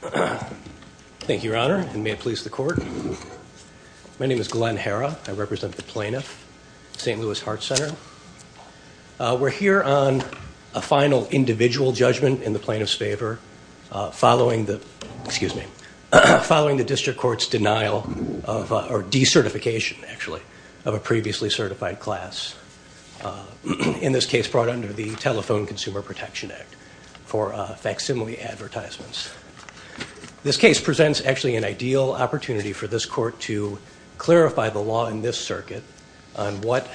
Thank you, Your Honor, and may it please the Court. My name is Glenn Herra. I represent the plaintiff, St. Louis Heart Center. We're here on a final individual judgment in the plaintiff's favor following the, excuse me, following the District Court's denial of, or decertification actually, of a previously certified class, in this case brought under the Telephone Consumer Protection Act for facsimile advertisements. This case presents actually an ideal opportunity for this Court to clarify the law in this circuit on what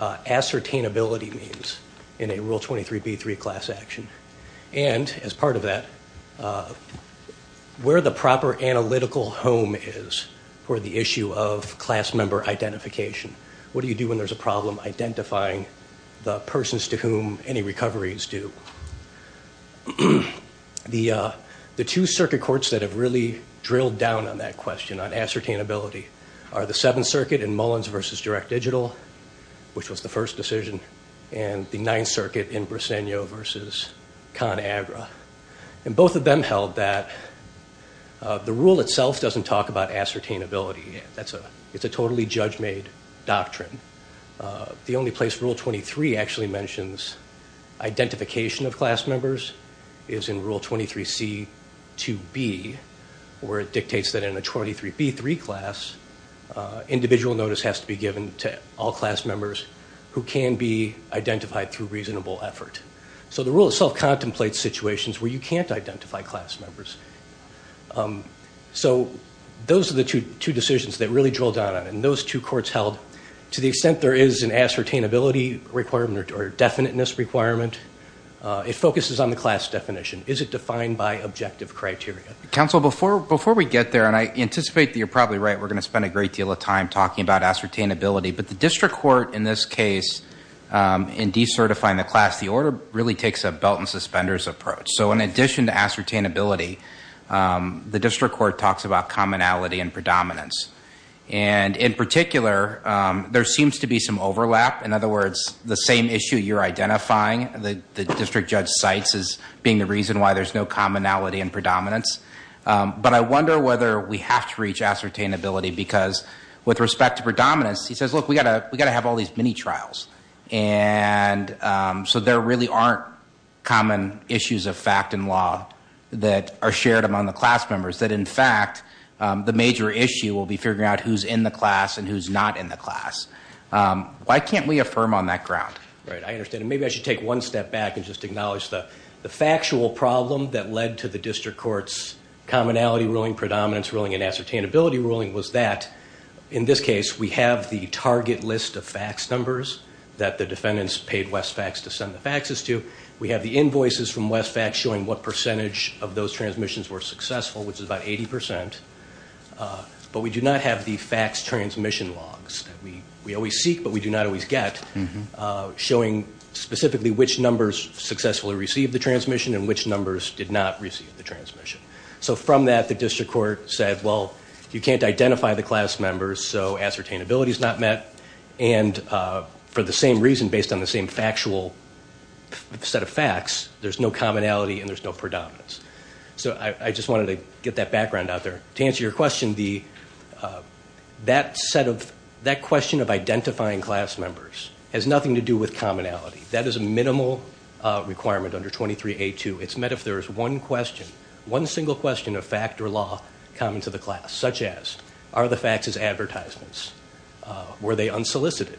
ascertainability means in a Rule 23b3 class action and, as part of that, where the proper analytical home is for the issue of class member identification. What do you do when there's a problem identifying the persons to whom any The two circuit courts that have really drilled down on that question, on ascertainability, are the Seventh Circuit in Mullins v. Direct Digital, which was the first decision, and the Ninth Circuit in Briseño v. ConAgra, and both of them held that the Rule itself doesn't talk about ascertainability. It's a totally judge-made doctrine. The only place Rule 23 actually mentions identification of class members is in Rule 23c2b, where it dictates that in a 23b3 class, individual notice has to be given to all class members who can be identified through reasonable effort. So the Rule itself contemplates situations where you can't identify class members. So those are the two decisions that really drilled down on it, and those two courts held, to the extent there is an ascertainability requirement or definiteness requirement, it focuses on the class definition. Is it defined by objective criteria? Counsel, before we get there, and I anticipate that you're probably right, we're going to spend a great deal of time talking about ascertainability, but the district court, in this case, in decertifying the class, the order really takes a belt-and-suspenders approach. So in addition to ascertainability, the district court talks about commonality and predominance. And in particular, there seems to be some overlap. In other words, the same issue you're identifying, the district judge cites as being the reason why there's no commonality and predominance. But I wonder whether we have to reach ascertainability, because with respect to predominance, he says, look, we got to have all these mini-trials. And so there really aren't common issues of fact and law that are shared among the class members. That, in fact, the major issue will be figuring out who's in the class and who's not in the class. Why can't we affirm on that ground? Right, I understand. Maybe I should take one step back and just acknowledge the factual problem that led to the district court's commonality ruling, predominance ruling, and ascertainability ruling was that, in this case, we have the target list of fax numbers that the defendants paid West Fax to send the faxes to. We have the invoices from West Fax showing what percentage of those transmissions were successful, which is about 80%. But we do not have the fax transmission logs that we always seek but we do not always get, showing specifically which numbers successfully received the transmission and which numbers did not receive the transmission. So from that, the district court said, well, you can't identify the class members, so ascertainability is not met. And for the same reason, based on the same factual set of facts, there's no commonality and there's no predominance. So I just wanted to get that background out there. To answer your question, that set of, that question of identifying class members has nothing to do with commonality. That is a minimal requirement under 23A2. It's met if there is one question, one single question of fact or law common to the class, such as, are the faxes advertisements? Were they unsolicited?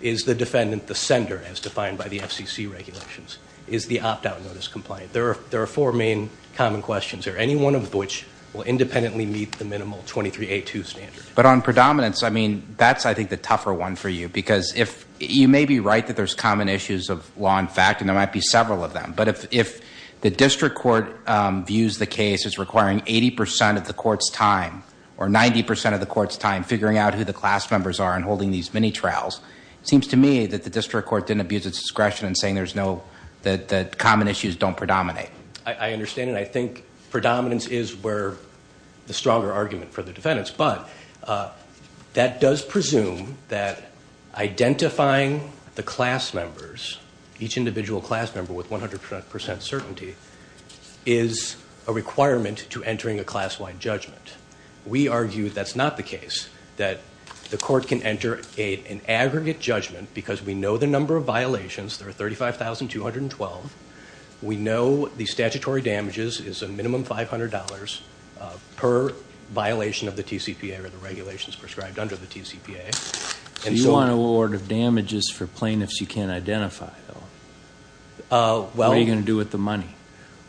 Is the defendant the sender, as defined by the FCC regulations? Is the opt-out notice compliant? There are four main common questions. Are any one of which will independently meet the minimal 23A2 standard. But on predominance, I mean, that's, I think, the tougher one for you. Because if, you may be right that there's common issues of law and fact and there might be several of them. But if, if the district court views the case as requiring 80% of the court's time or 90% of the court's time figuring out who the class members are and holding these mini trials, it seems to me that the district court didn't abuse its discretion in saying there's no, that, that common issues don't predominate. I understand and I think predominance is where the stronger argument for the defendants. But that does presume that identifying the class members, each individual class member with 100% certainty, is a requirement to entering a class-wide judgment. We argue that's not the case. That the court can enter an aggregate judgment because we know the number of violations, there are 35,212. We know the statutory damages is a minimum $500 per violation of the TCPA or the regulations prescribed under the TCPA. So you want a little order of damages for plaintiffs you can't identify? Well, what are you gonna do with the money?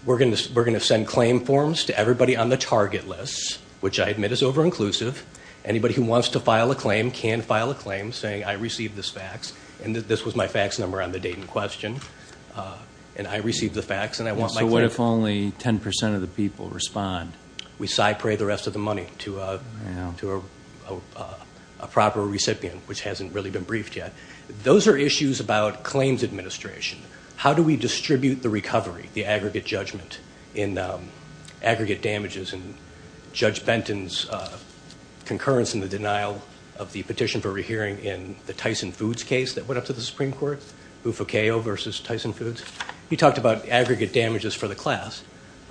We're gonna, we're gonna send claim forms to everybody on the target list, which I admit is over-inclusive. Anybody who wants to file a claim can file a claim saying I received this fax and that this was my fax number on the date in question and I received the fax and I want my claim. So what if only 10% of the people respond? We side-pray the rest of the money to a, you know, to a proper recipient which hasn't really been briefed yet. Those are issues about claims administration. How do we distribute the recovery, the aggregate judgment in aggregate damages and Judge Benton's concurrence in the denial of the petition for rehearing in the Tyson Foods case that went up to the Supreme Court, Bufocao versus Tyson Foods. He talked about aggregate damages for the class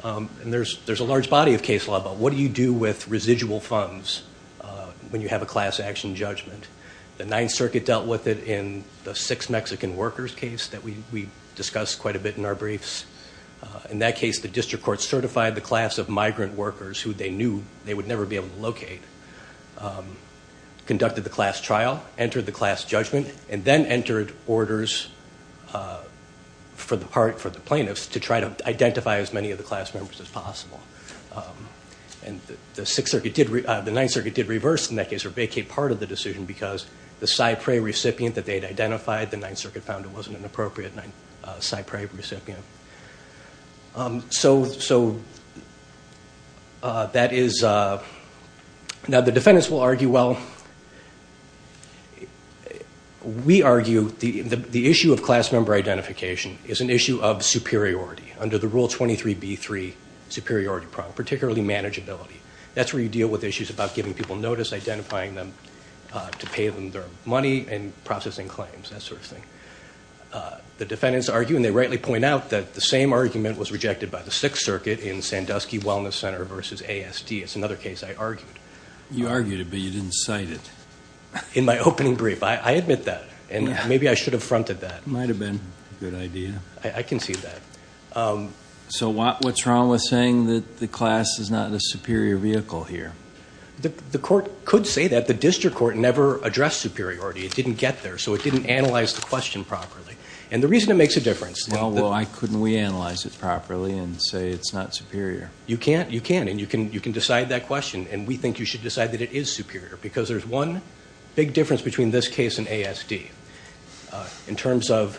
and there's, there's a large body of case law, but what do you do with residual funds when you have a class action judgment? The Ninth Circuit dealt with it in the six Mexican workers case that we discussed quite a bit in our briefs. In that case, the district court certified the class of migrant workers who they knew they would never be able to locate, conducted the class trial, entered the class judgment, and then entered orders for the part, for the plaintiffs to try to identify as many of the class members as possible. And the Sixth Circuit did, the Ninth Circuit did reverse in that case or vacate part of the decision because the side-pray recipient that they'd identified, the Ninth Circuit found it wasn't an appropriate side-pray recipient. So, so that is, now the defendants will argue, well, we argue the, the issue of class member identification is an issue of superiority under the rule 23b3 superiority problem, particularly manageability. That's where you deal with issues about giving people notice, identifying them to pay them their money and processing claims, that sort of thing. The defendants argue, and they rightly point out that the same argument was rejected by the Sixth Circuit in Sandusky Wellness Center versus ASD. It's another case I argued. You argued it, but you didn't cite it. In my opening brief, I admit that, and maybe I should have fronted that. Might have been a good idea. I can see that. So what, what's wrong with saying that the class is not in a superior vehicle here? The, the court could say that. The district court never addressed superiority. It didn't get there, so it didn't analyze the question properly. And the reason it makes a difference. Well, why couldn't we analyze it properly and say it's not superior? You can't, you can't, and you can, you can decide that question, and we think you should decide that it is superior, because there's one big difference between this case and ASD. In terms of,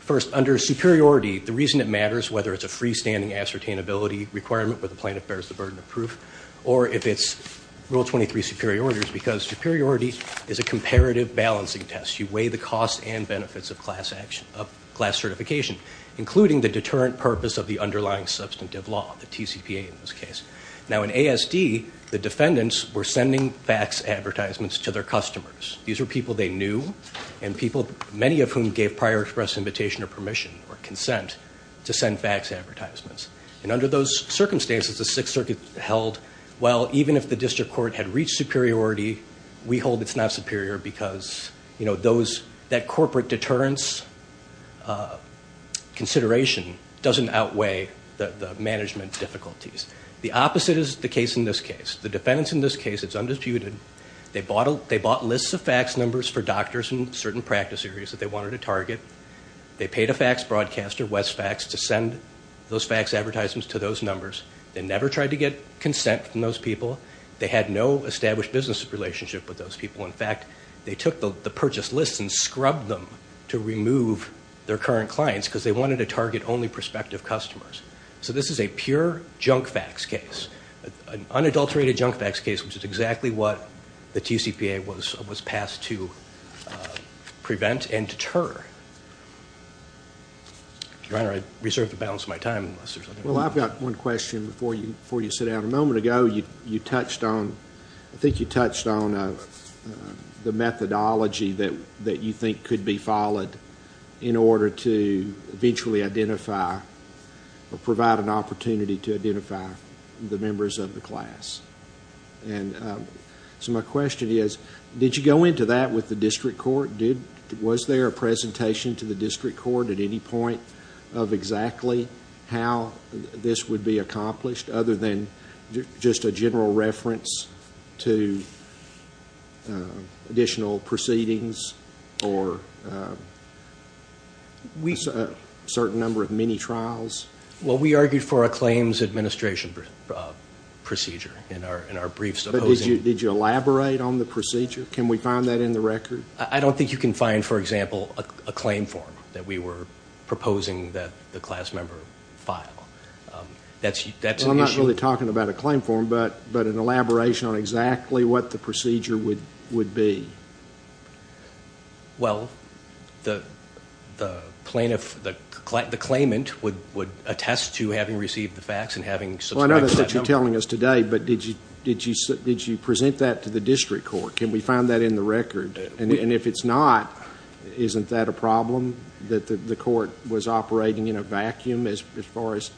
first, under superiority, the reason it matters, whether it's a freestanding ascertainability requirement where the plaintiff bears the burden of proof, or if it's rule 23 superiority, is because superiority is a comparative balancing test. You weigh the costs and benefits of class action, of class certification, including the deterrent purpose of the underlying substantive law, the TCPA in this case. Now in ASD, the defendants were sending fax advertisements to their customers. These were people they knew, and people, many of whom gave prior express invitation or permission or consent, to send fax advertisements. And under those circumstances, the Sixth Circuit held, well, even if the district court had reached superiority, we hold it's not superior, because, you know, those, that corporate deterrence consideration doesn't outweigh the management difficulties. The opposite is the case in this case. The defendants in this case, it's undisputed, they bought, they bought lists of fax numbers for doctors in certain practice areas that they wanted to target. They paid a fax broadcaster, Westfax, to send those fax advertisements to those numbers. They never tried to get consent from those people. They had no established business relationship with those people. In fact, they took the purchase lists and scrubbed them to remove their current clients, because they wanted to target only prospective customers. So this is a pure junk fax case, an unadulterated junk fax case, which is exactly what the TCPA was, was passed to prevent and deter. Your Honor, I reserved the balance of my time. Well, I've got one question before you sit down. A moment ago, you touched on, I think you touched on the methodology that you think could be followed in order to eventually identify or provide an opportunity to identify the members of the class. So my question is, did you go into that with the district court? Was there a presentation to the district court at any point of exactly how this would be accomplished, other than just a general reference to additional proceedings or a certain number of mini-trials? Well, we argued for a claims administration procedure in our briefs. But did you elaborate on the procedure? Can we find that in the record? I don't think you can find, for example, a claim form that we I'm not really talking about a claim form, but an elaboration on exactly what the procedure would be. Well, the plaintiff, the claimant would attest to having received the fax and having submitted to that number. Well, I know that's what you're telling us today, but did you present that to the district court? Can we find that in the record? And if it's not, isn't that a problem that the court was operating in a vacuum as far as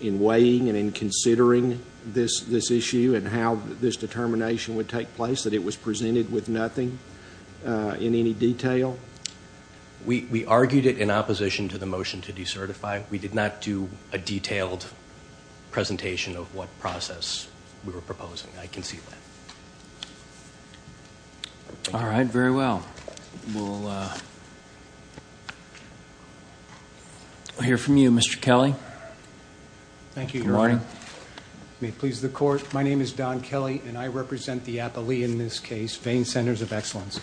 in weighing and in considering this issue and how this determination would take place, that it was presented with nothing in any detail? We argued it in opposition to the motion to decertify. We did not do a detailed presentation of what process we were proposing. I can see that. All right, very well. We'll hear from you, Mr. Kelly. Thank you, Your Honor. May it please the court, my name is Don Kelly and I represent the Appley, in this case, Vein Centers of Excellence.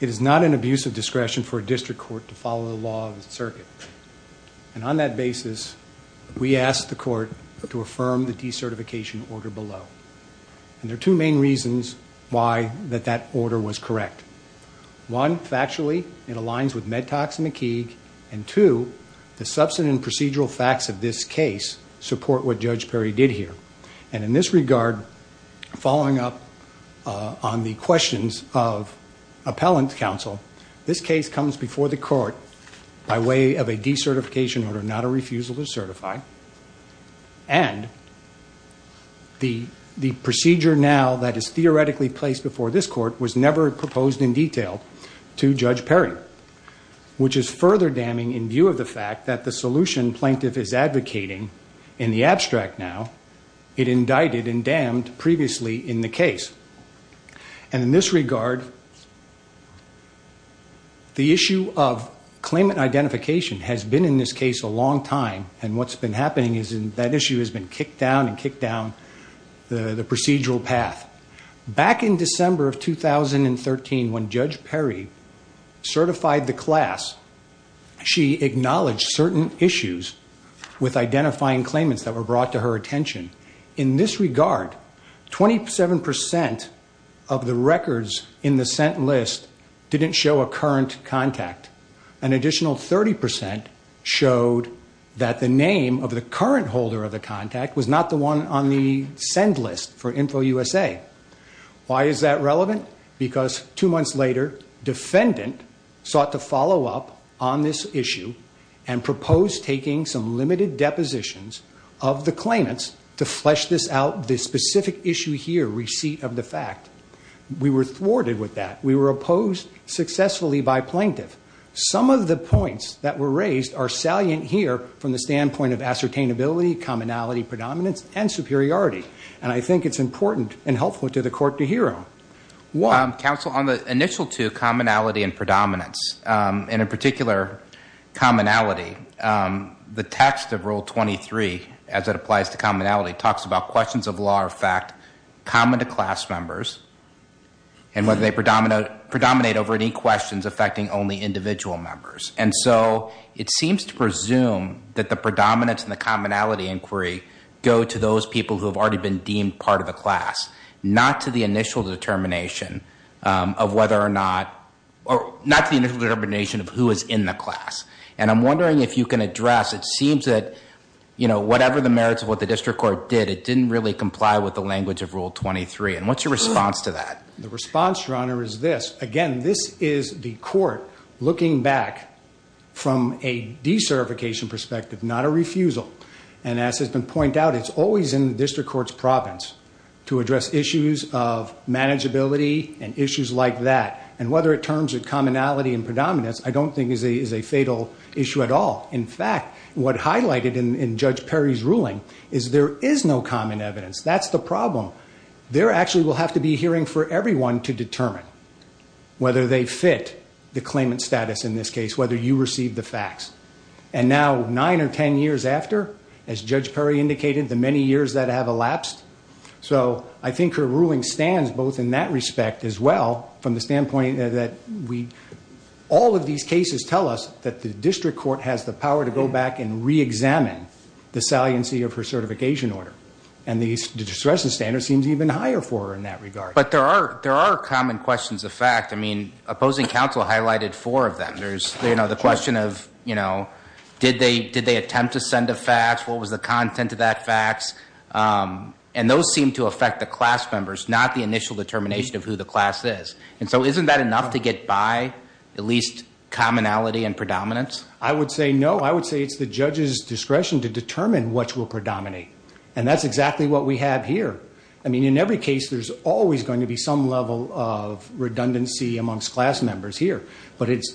It is not an abuse of discretion for a district court to follow the law of the circuit. And on that basis, we asked the court to affirm the decertification order below. And there are two main reasons why that that order was correct. One, factually, it aligns with Medtox and McKeague. And two, the substance and procedural facts of this case support what Judge Perry did here. And in this regard, following up on the questions of appellant counsel, this case comes before the court by way of a decertification order, not a refusal to certify. And the procedure now that is theoretically placed before this court was never proposed in detail to Judge Perry, which is further damning in view of the fact that the solution plaintiff is advocating in the abstract now, it indicted and damned previously in the case. And in this regard, the issue of claimant identification has been in this case a long time. And what's been happening is in that issue has been kicked down and kicked down the procedural path. Back in December of 2013, when Judge Perry certified the class, she acknowledged certain issues with identifying claimants that were brought to her attention. In this regard, 27% of the records in the sent list didn't show a current contact. An additional 30% showed that the name of the current holder of the contact was not the one on the send list for InfoUSA. Why is that relevant? Because two months later, defendant sought to follow up on this issue and proposed taking some limited depositions of the claimants to flesh this out, this specific issue here, receipt of the fact. We were thwarted with that. We were opposed successfully by plaintiff. Some of the points that were raised are salient here from the standpoint of ascertainability, commonality, predominance, and superiority. And I think it's important and helpful to the court to hear them. Counsel, on the initial two, commonality and predominance, and in particular commonality, the text of Rule 23, as it applies to commonality, talks about questions of law or fact common to class members and whether they predominate over any questions affecting only individual members. And so it seems to me that the predominance and the commonality inquiry go to those people who have already been deemed part of the class, not to the initial determination of whether or not, or not the initial determination of who is in the class. And I'm wondering if you can address, it seems that, you know, whatever the merits of what the district court did, it didn't really comply with the language of Rule 23. And what's your response to that? The response, Your Honor, is this. Again, this is the court looking back from a recertification perspective, not a refusal. And as has been pointed out, it's always in the district court's province to address issues of manageability and issues like that. And whether it turns to commonality and predominance, I don't think is a fatal issue at all. In fact, what highlighted in Judge Perry's ruling is there is no common evidence. That's the problem. There actually will have to be a hearing for everyone to determine whether they fit the claimant status in this case, whether you receive the facts. And now nine or 10 years after, as Judge Perry indicated, the many years that have elapsed. So I think her ruling stands both in that respect as well, from the standpoint that all of these cases tell us that the district court has the power to go back and re-examine the saliency of her certification order. And the discretion standard seems even higher for her in that regard. But there are common questions of fact. I mean, opposing counsel highlighted four of them. There's the question of, you know, did they attempt to send a fax? What was the content of that fax? And those seem to affect the class members, not the initial determination of who the class is. And so isn't that enough to get by at least commonality and predominance? I would say no. I would say it's the judge's discretion to determine what will predominate. And that's exactly what we have here. I mean, in every case, there's always going to be some level of redundancy amongst class members here. But it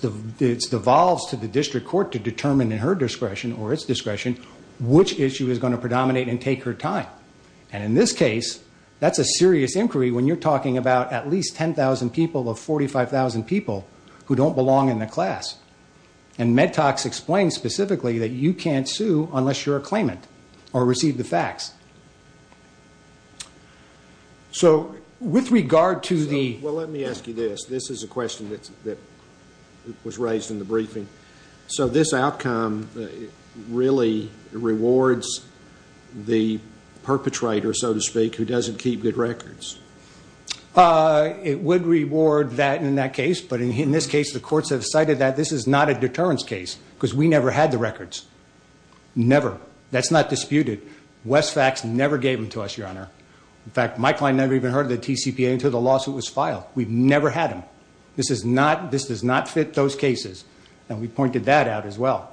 devolves to the district court to determine in her discretion or its discretion which issue is going to predominate and take her time. And in this case, that's a serious inquiry when you're talking about at least 10,000 people of 45,000 people who don't belong in the class. And MedTox explains specifically that you can't sue unless you're a claimant or receive the fax. So with regard to the... Well, let me ask you this. This is a question that was raised in the briefing. So this outcome really rewards the perpetrator, so to speak, who doesn't keep good records? It would reward that in that case. But in this case, the courts have cited that this is not a deterrence case because we never had the records. Never. That's not disputed. Westfax never gave them to us, Your Honor. In fact, my client never even heard of the TCPA until the lawsuit was filed. We've never had them. This is not... This does not fit those cases. And we pointed that out as well.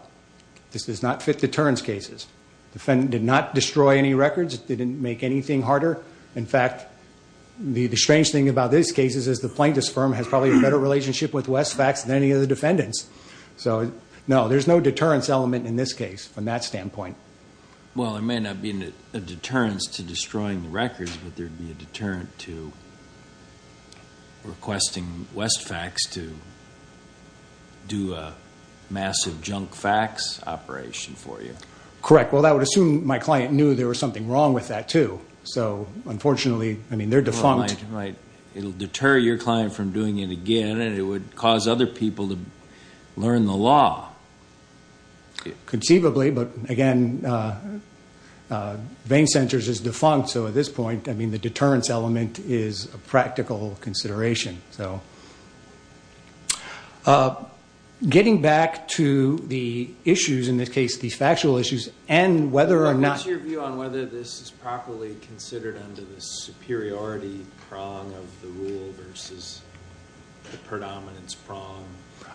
This does not fit deterrence cases. Defendant did not destroy any records. They didn't make anything harder. In fact, the strange thing about this case is the plaintiff's firm has probably a better relationship with Westfax than any of the defendants. So no, there's no deterrence element in this case from that standpoint. Well, there may not be a deterrence to destroying the records, but there'd be a deterrent to requesting Westfax to do a massive junk facts operation for you. Correct. Well, that would assume my client knew there was something wrong with that, too. So unfortunately, I mean, they're defunct. Right. It'll deter your client from doing it again, and it would cause other people to learn the law. Conceivably, but again, Vein Centers is defunct, so at this point, I mean, the deterrence element is a practical consideration. So getting back to the issues, in this case, these factual issues, and whether or not... What's your view on whether this is properly considered under the superiority prong of the rule versus the predominance prong?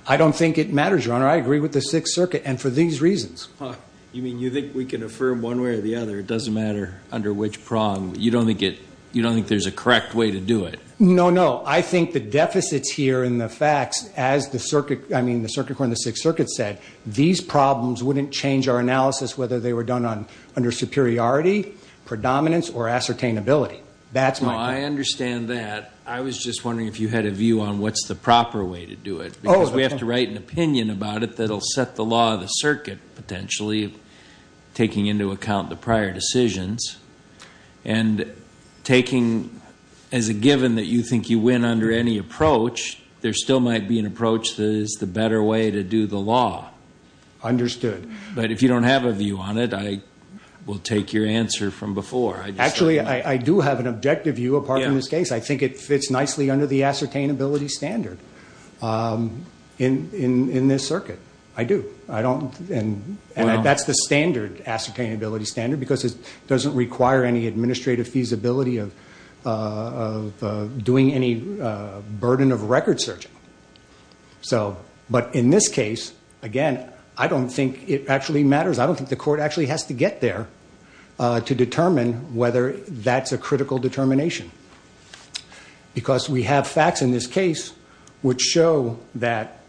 I don't think it matters, Your Honor. I agree with the Sixth Circuit, and for these reasons. You mean you think we can affirm one way or the other, it doesn't matter under which prong. You don't think it, you don't think there's a correct way to do it? No, no. I think the deficits here in the facts, as the Circuit, I mean, the Circuit Court and the Sixth Circuit said, these problems wouldn't change our analysis whether they were done under superiority, predominance, or ascertainability. That's my... No, I understand that. I was just wondering if you had a view on what's the proper way to do it, because we have to write an opinion about it that'll set the law of the Circuit, potentially, taking into account the prior decisions, and taking as a given that you think you win under any approach, there still might be an approach that is the better way to do the law. Understood. But if you don't have a view on it, I will take your answer from before. Actually, I do have an objective view, apart from this case. I think it fits nicely under the ascertainability standard in this Circuit. I do. I don't, and that's the standard ascertainability standard, because it doesn't require any administrative feasibility of doing any burden of record searching. So, but in this case, again, I don't think it actually has to get there to determine whether that's a critical determination, because we have facts in this case which show that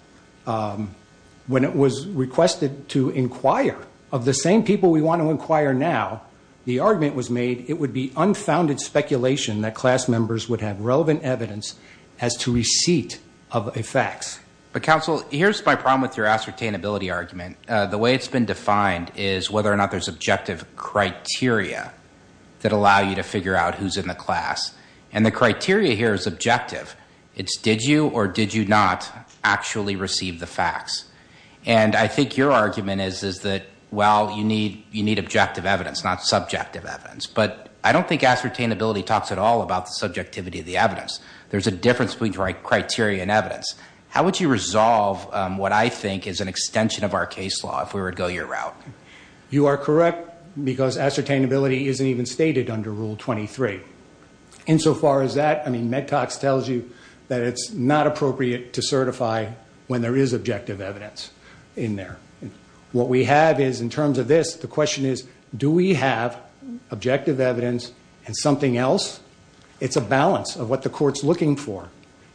when it was requested to inquire of the same people we want to inquire now, the argument was made it would be unfounded speculation that class members would have relevant evidence as to receipt of a fax. But counsel, here's my problem with your argument. Whether or not there's objective criteria that allow you to figure out who's in the class, and the criteria here is objective. It's did you or did you not actually receive the facts? And I think your argument is that, well, you need objective evidence, not subjective evidence. But I don't think ascertainability talks at all about the subjectivity of the evidence. There's a difference between criteria and evidence. How would you resolve what I think is an extension of our case law if we were to go your route? You are correct, because ascertainability isn't even stated under Rule 23. Insofar as that, I mean, MedTox tells you that it's not appropriate to certify when there is objective evidence in there. What we have is, in terms of this, the question is, do we have objective evidence and something else? It's a balance of what the court's looking for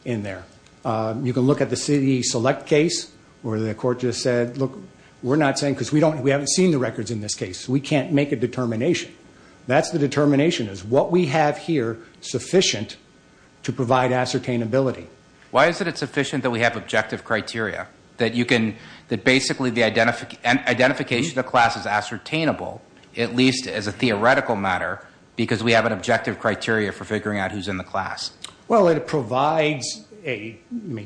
in there. You can look at the CE Select case, where the court just said, look, we're not saying, because we haven't seen the records in this case, we can't make a determination. That's the determination, is what we have here sufficient to provide ascertainability. Why is it it's sufficient that we have objective criteria? That basically the identification of class is ascertainable, at least as a theoretical matter, because we have an objective criteria that provides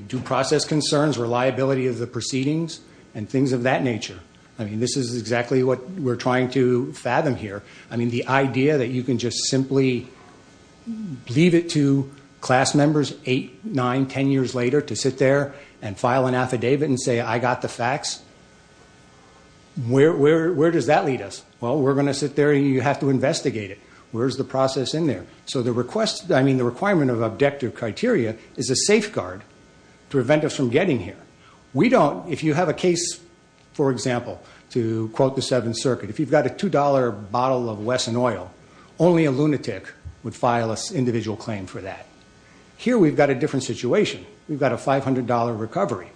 due process concerns, reliability of the proceedings, and things of that nature. I mean, this is exactly what we're trying to fathom here. I mean, the idea that you can just simply leave it to class members eight, nine, ten years later to sit there and file an affidavit and say, I got the facts. Where does that lead us? Well, we're gonna sit there, you have to investigate it. Where's the criteria is a safeguard to prevent us from getting here. We don't, if you have a case, for example, to quote the Seventh Circuit, if you've got a $2 bottle of Wesson oil, only a lunatic would file an individual claim for that. Here, we've got a different situation. We've got a $500 recovery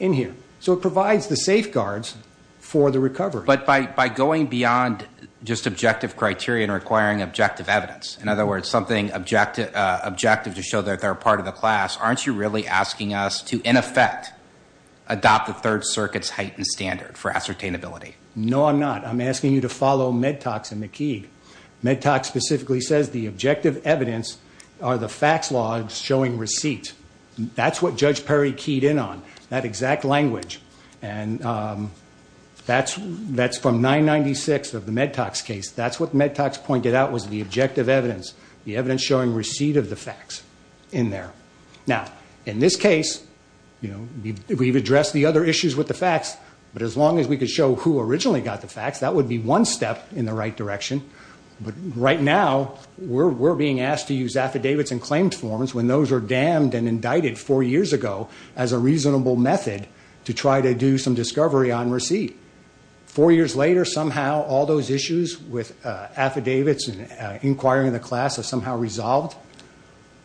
in here, so it provides the safeguards for the recovery. But by going beyond just objective criteria and requiring objective evidence, in other words, something objective to show that they're part of the class, aren't you really asking us to, in effect, adopt the Third Circuit's heightened standard for ascertainability? No, I'm not. I'm asking you to follow Medtox and McKee. Medtox specifically says the objective evidence are the facts law showing receipt. That's what Judge Perry keyed in on, that exact language. And that's from 996 of the Medtox case. That's what Medtox pointed out was the objective evidence, the evidence showing receipt of the facts in there. Now, in this case, you know, we've addressed the other issues with the facts, but as long as we could show who originally got the facts, that would be one step in the right direction. But right now, we're being asked to use affidavits and claims forms when those are damned and indicted four years ago as a reasonable method to try to do some discovery on receipt. Four years later, somehow all those issues with affidavits and inquiring the class have somehow resolved.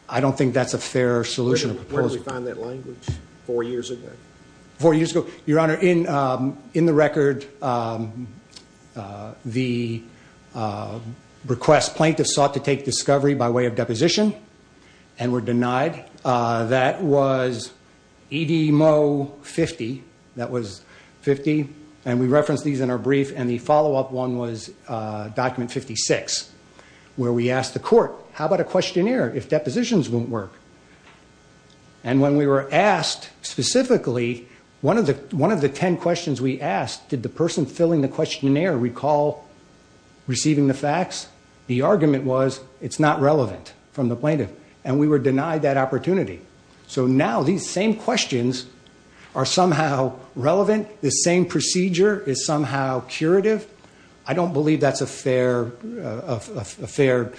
I don't think that's a fair solution. Where did we find that language four years ago? Four years ago, Your Honor, in in the record, um, uh, the, uh, request plaintiffs sought to take discovery by way of deposition and were denied. Uh, that was Ed Mo 50. That was 50. And we referenced these in our questionnaire if depositions won't work. And when we were asked specifically, one of the, one of the 10 questions we asked, did the person filling the questionnaire recall receiving the facts? The argument was it's not relevant from the plaintiff and we were denied that opportunity. So now these same questions are somehow relevant. This same procedure is somehow curative. I don't believe that's a fair, a fair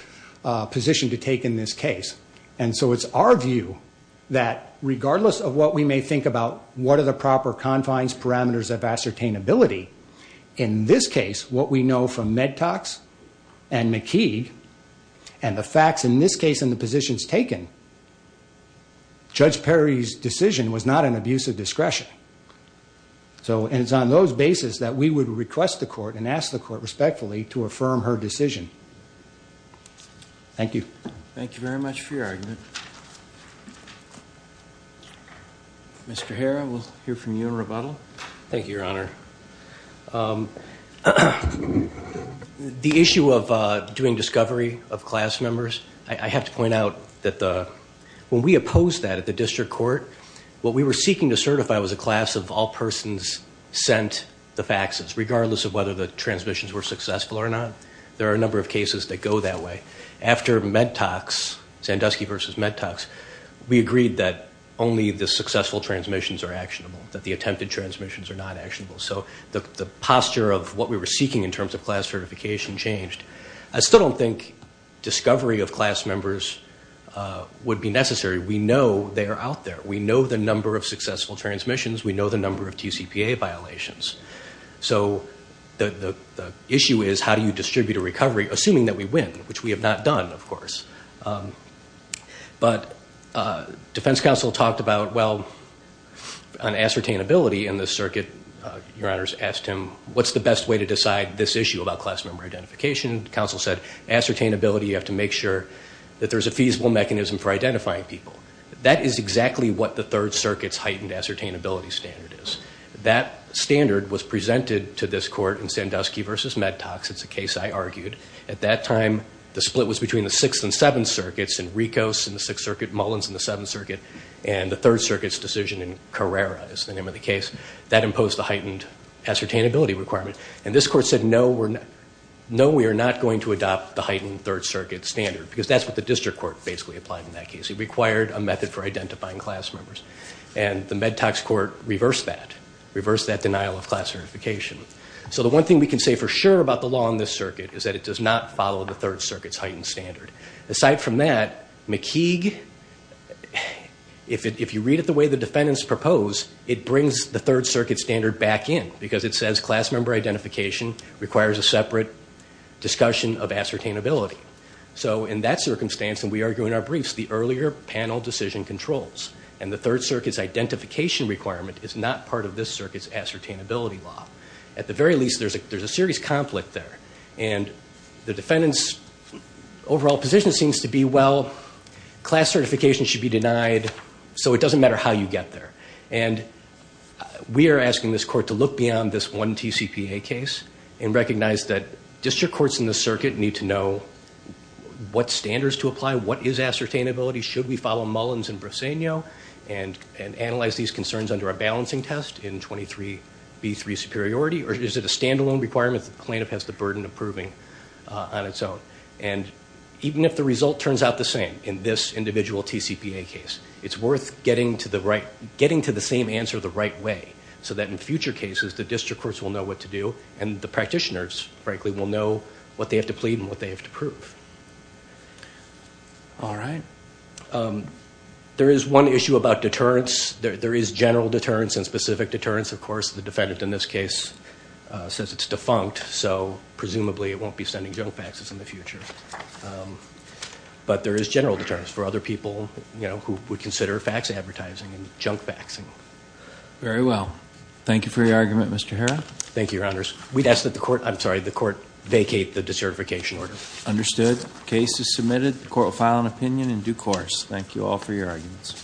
position to take in this case. And so it's our view that regardless of what we may think about, what are the proper confines parameters of ascertainability in this case, what we know from med talks and McKee and the facts in this case in the positions taken, Judge Perry's decision was not an abuse of discretion. So it's on those basis that we would request the court and ask the court respectfully to affirm her decision. Thank you. Thank you very much for your argument. Mr. Herrera, we'll hear from you in rebuttal. Thank you, your honor. The issue of doing discovery of class members, I have to point out that the, when we opposed that at the district court, what we were seeking to certify was a class of all persons sent the faxes, regardless of whether the transmissions were successful or not. There are a number of cases that go that way. After med talks, Sandusky versus med talks, we agreed that only the successful transmissions are actionable, that the attempted transmissions are not actionable. So the posture of what we were seeking in terms of class certification changed. I still don't think discovery of class members would be necessary. We know they are out there. We know the number of successful transmissions. We know the number of TCPA violations. So the issue is how do you distribute a recovery, assuming that we win, which we have not done, of course. But defense counsel talked about, well, an ascertainability in the circuit. Your honors asked him, what's the best way to decide this issue about class member identification? Counsel said, ascertainability, you have to make sure that there's a feasible mechanism for what the ascertainability standard is. That standard was presented to this court in Sandusky versus med talks. It's a case I argued. At that time, the split was between the Sixth and Seventh Circuits, and Ricos in the Sixth Circuit, Mullins in the Seventh Circuit, and the Third Circuit's decision in Carrera is the name of the case. That imposed a heightened ascertainability requirement. And this court said, no, we are not going to adopt the heightened Third Circuit standard, because that's what the district court basically applied in that case. It required a method for identifying class members. And the med talks court reversed that, reversed that denial of class certification. So the one thing we can say for sure about the law in this circuit is that it does not follow the Third Circuit's heightened standard. Aside from that, McKeague, if you read it the way the defendants propose, it brings the Third Circuit standard back in, because it says class member identification requires a separate discussion of ascertainability. So in that circumstance, and we argue in our briefs, the earlier panel decision controls. And the Third Circuit's identification requirement is not part of this circuit's ascertainability law. At the very least, there's a, there's a serious conflict there. And the defendant's overall position seems to be, well, class certification should be denied. So it doesn't matter how you get there. And we are asking this court to look beyond this one TCPA case and recognize that district courts in the circuit need to know what standards to ascertainability. Should we follow Mullins and Briseño and, and analyze these concerns under a balancing test in 23B3 superiority, or is it a standalone requirement that the plaintiff has the burden of proving on its own? And even if the result turns out the same in this individual TCPA case, it's worth getting to the right, getting to the same answer the right way. So that in future cases, the district courts will know what to do and the practitioners, frankly, will know what they have to plead and what they have to prove. All right. Um, there is one issue about deterrence. There is general deterrence and specific deterrence. Of course, the defendant in this case says it's defunct. So presumably it won't be sending junk faxes in the future. Um, but there is general deterrence for other people, you know, who would consider fax advertising and junk faxing. Very well. Thank you for your argument, Mr. Hera. Thank you, Your Honors. We'd ask that the court, I'm sorry, the court vacate the decertification order. Understood. Case is submitted. The court will file an opinion in due course. Thank you all for your arguments.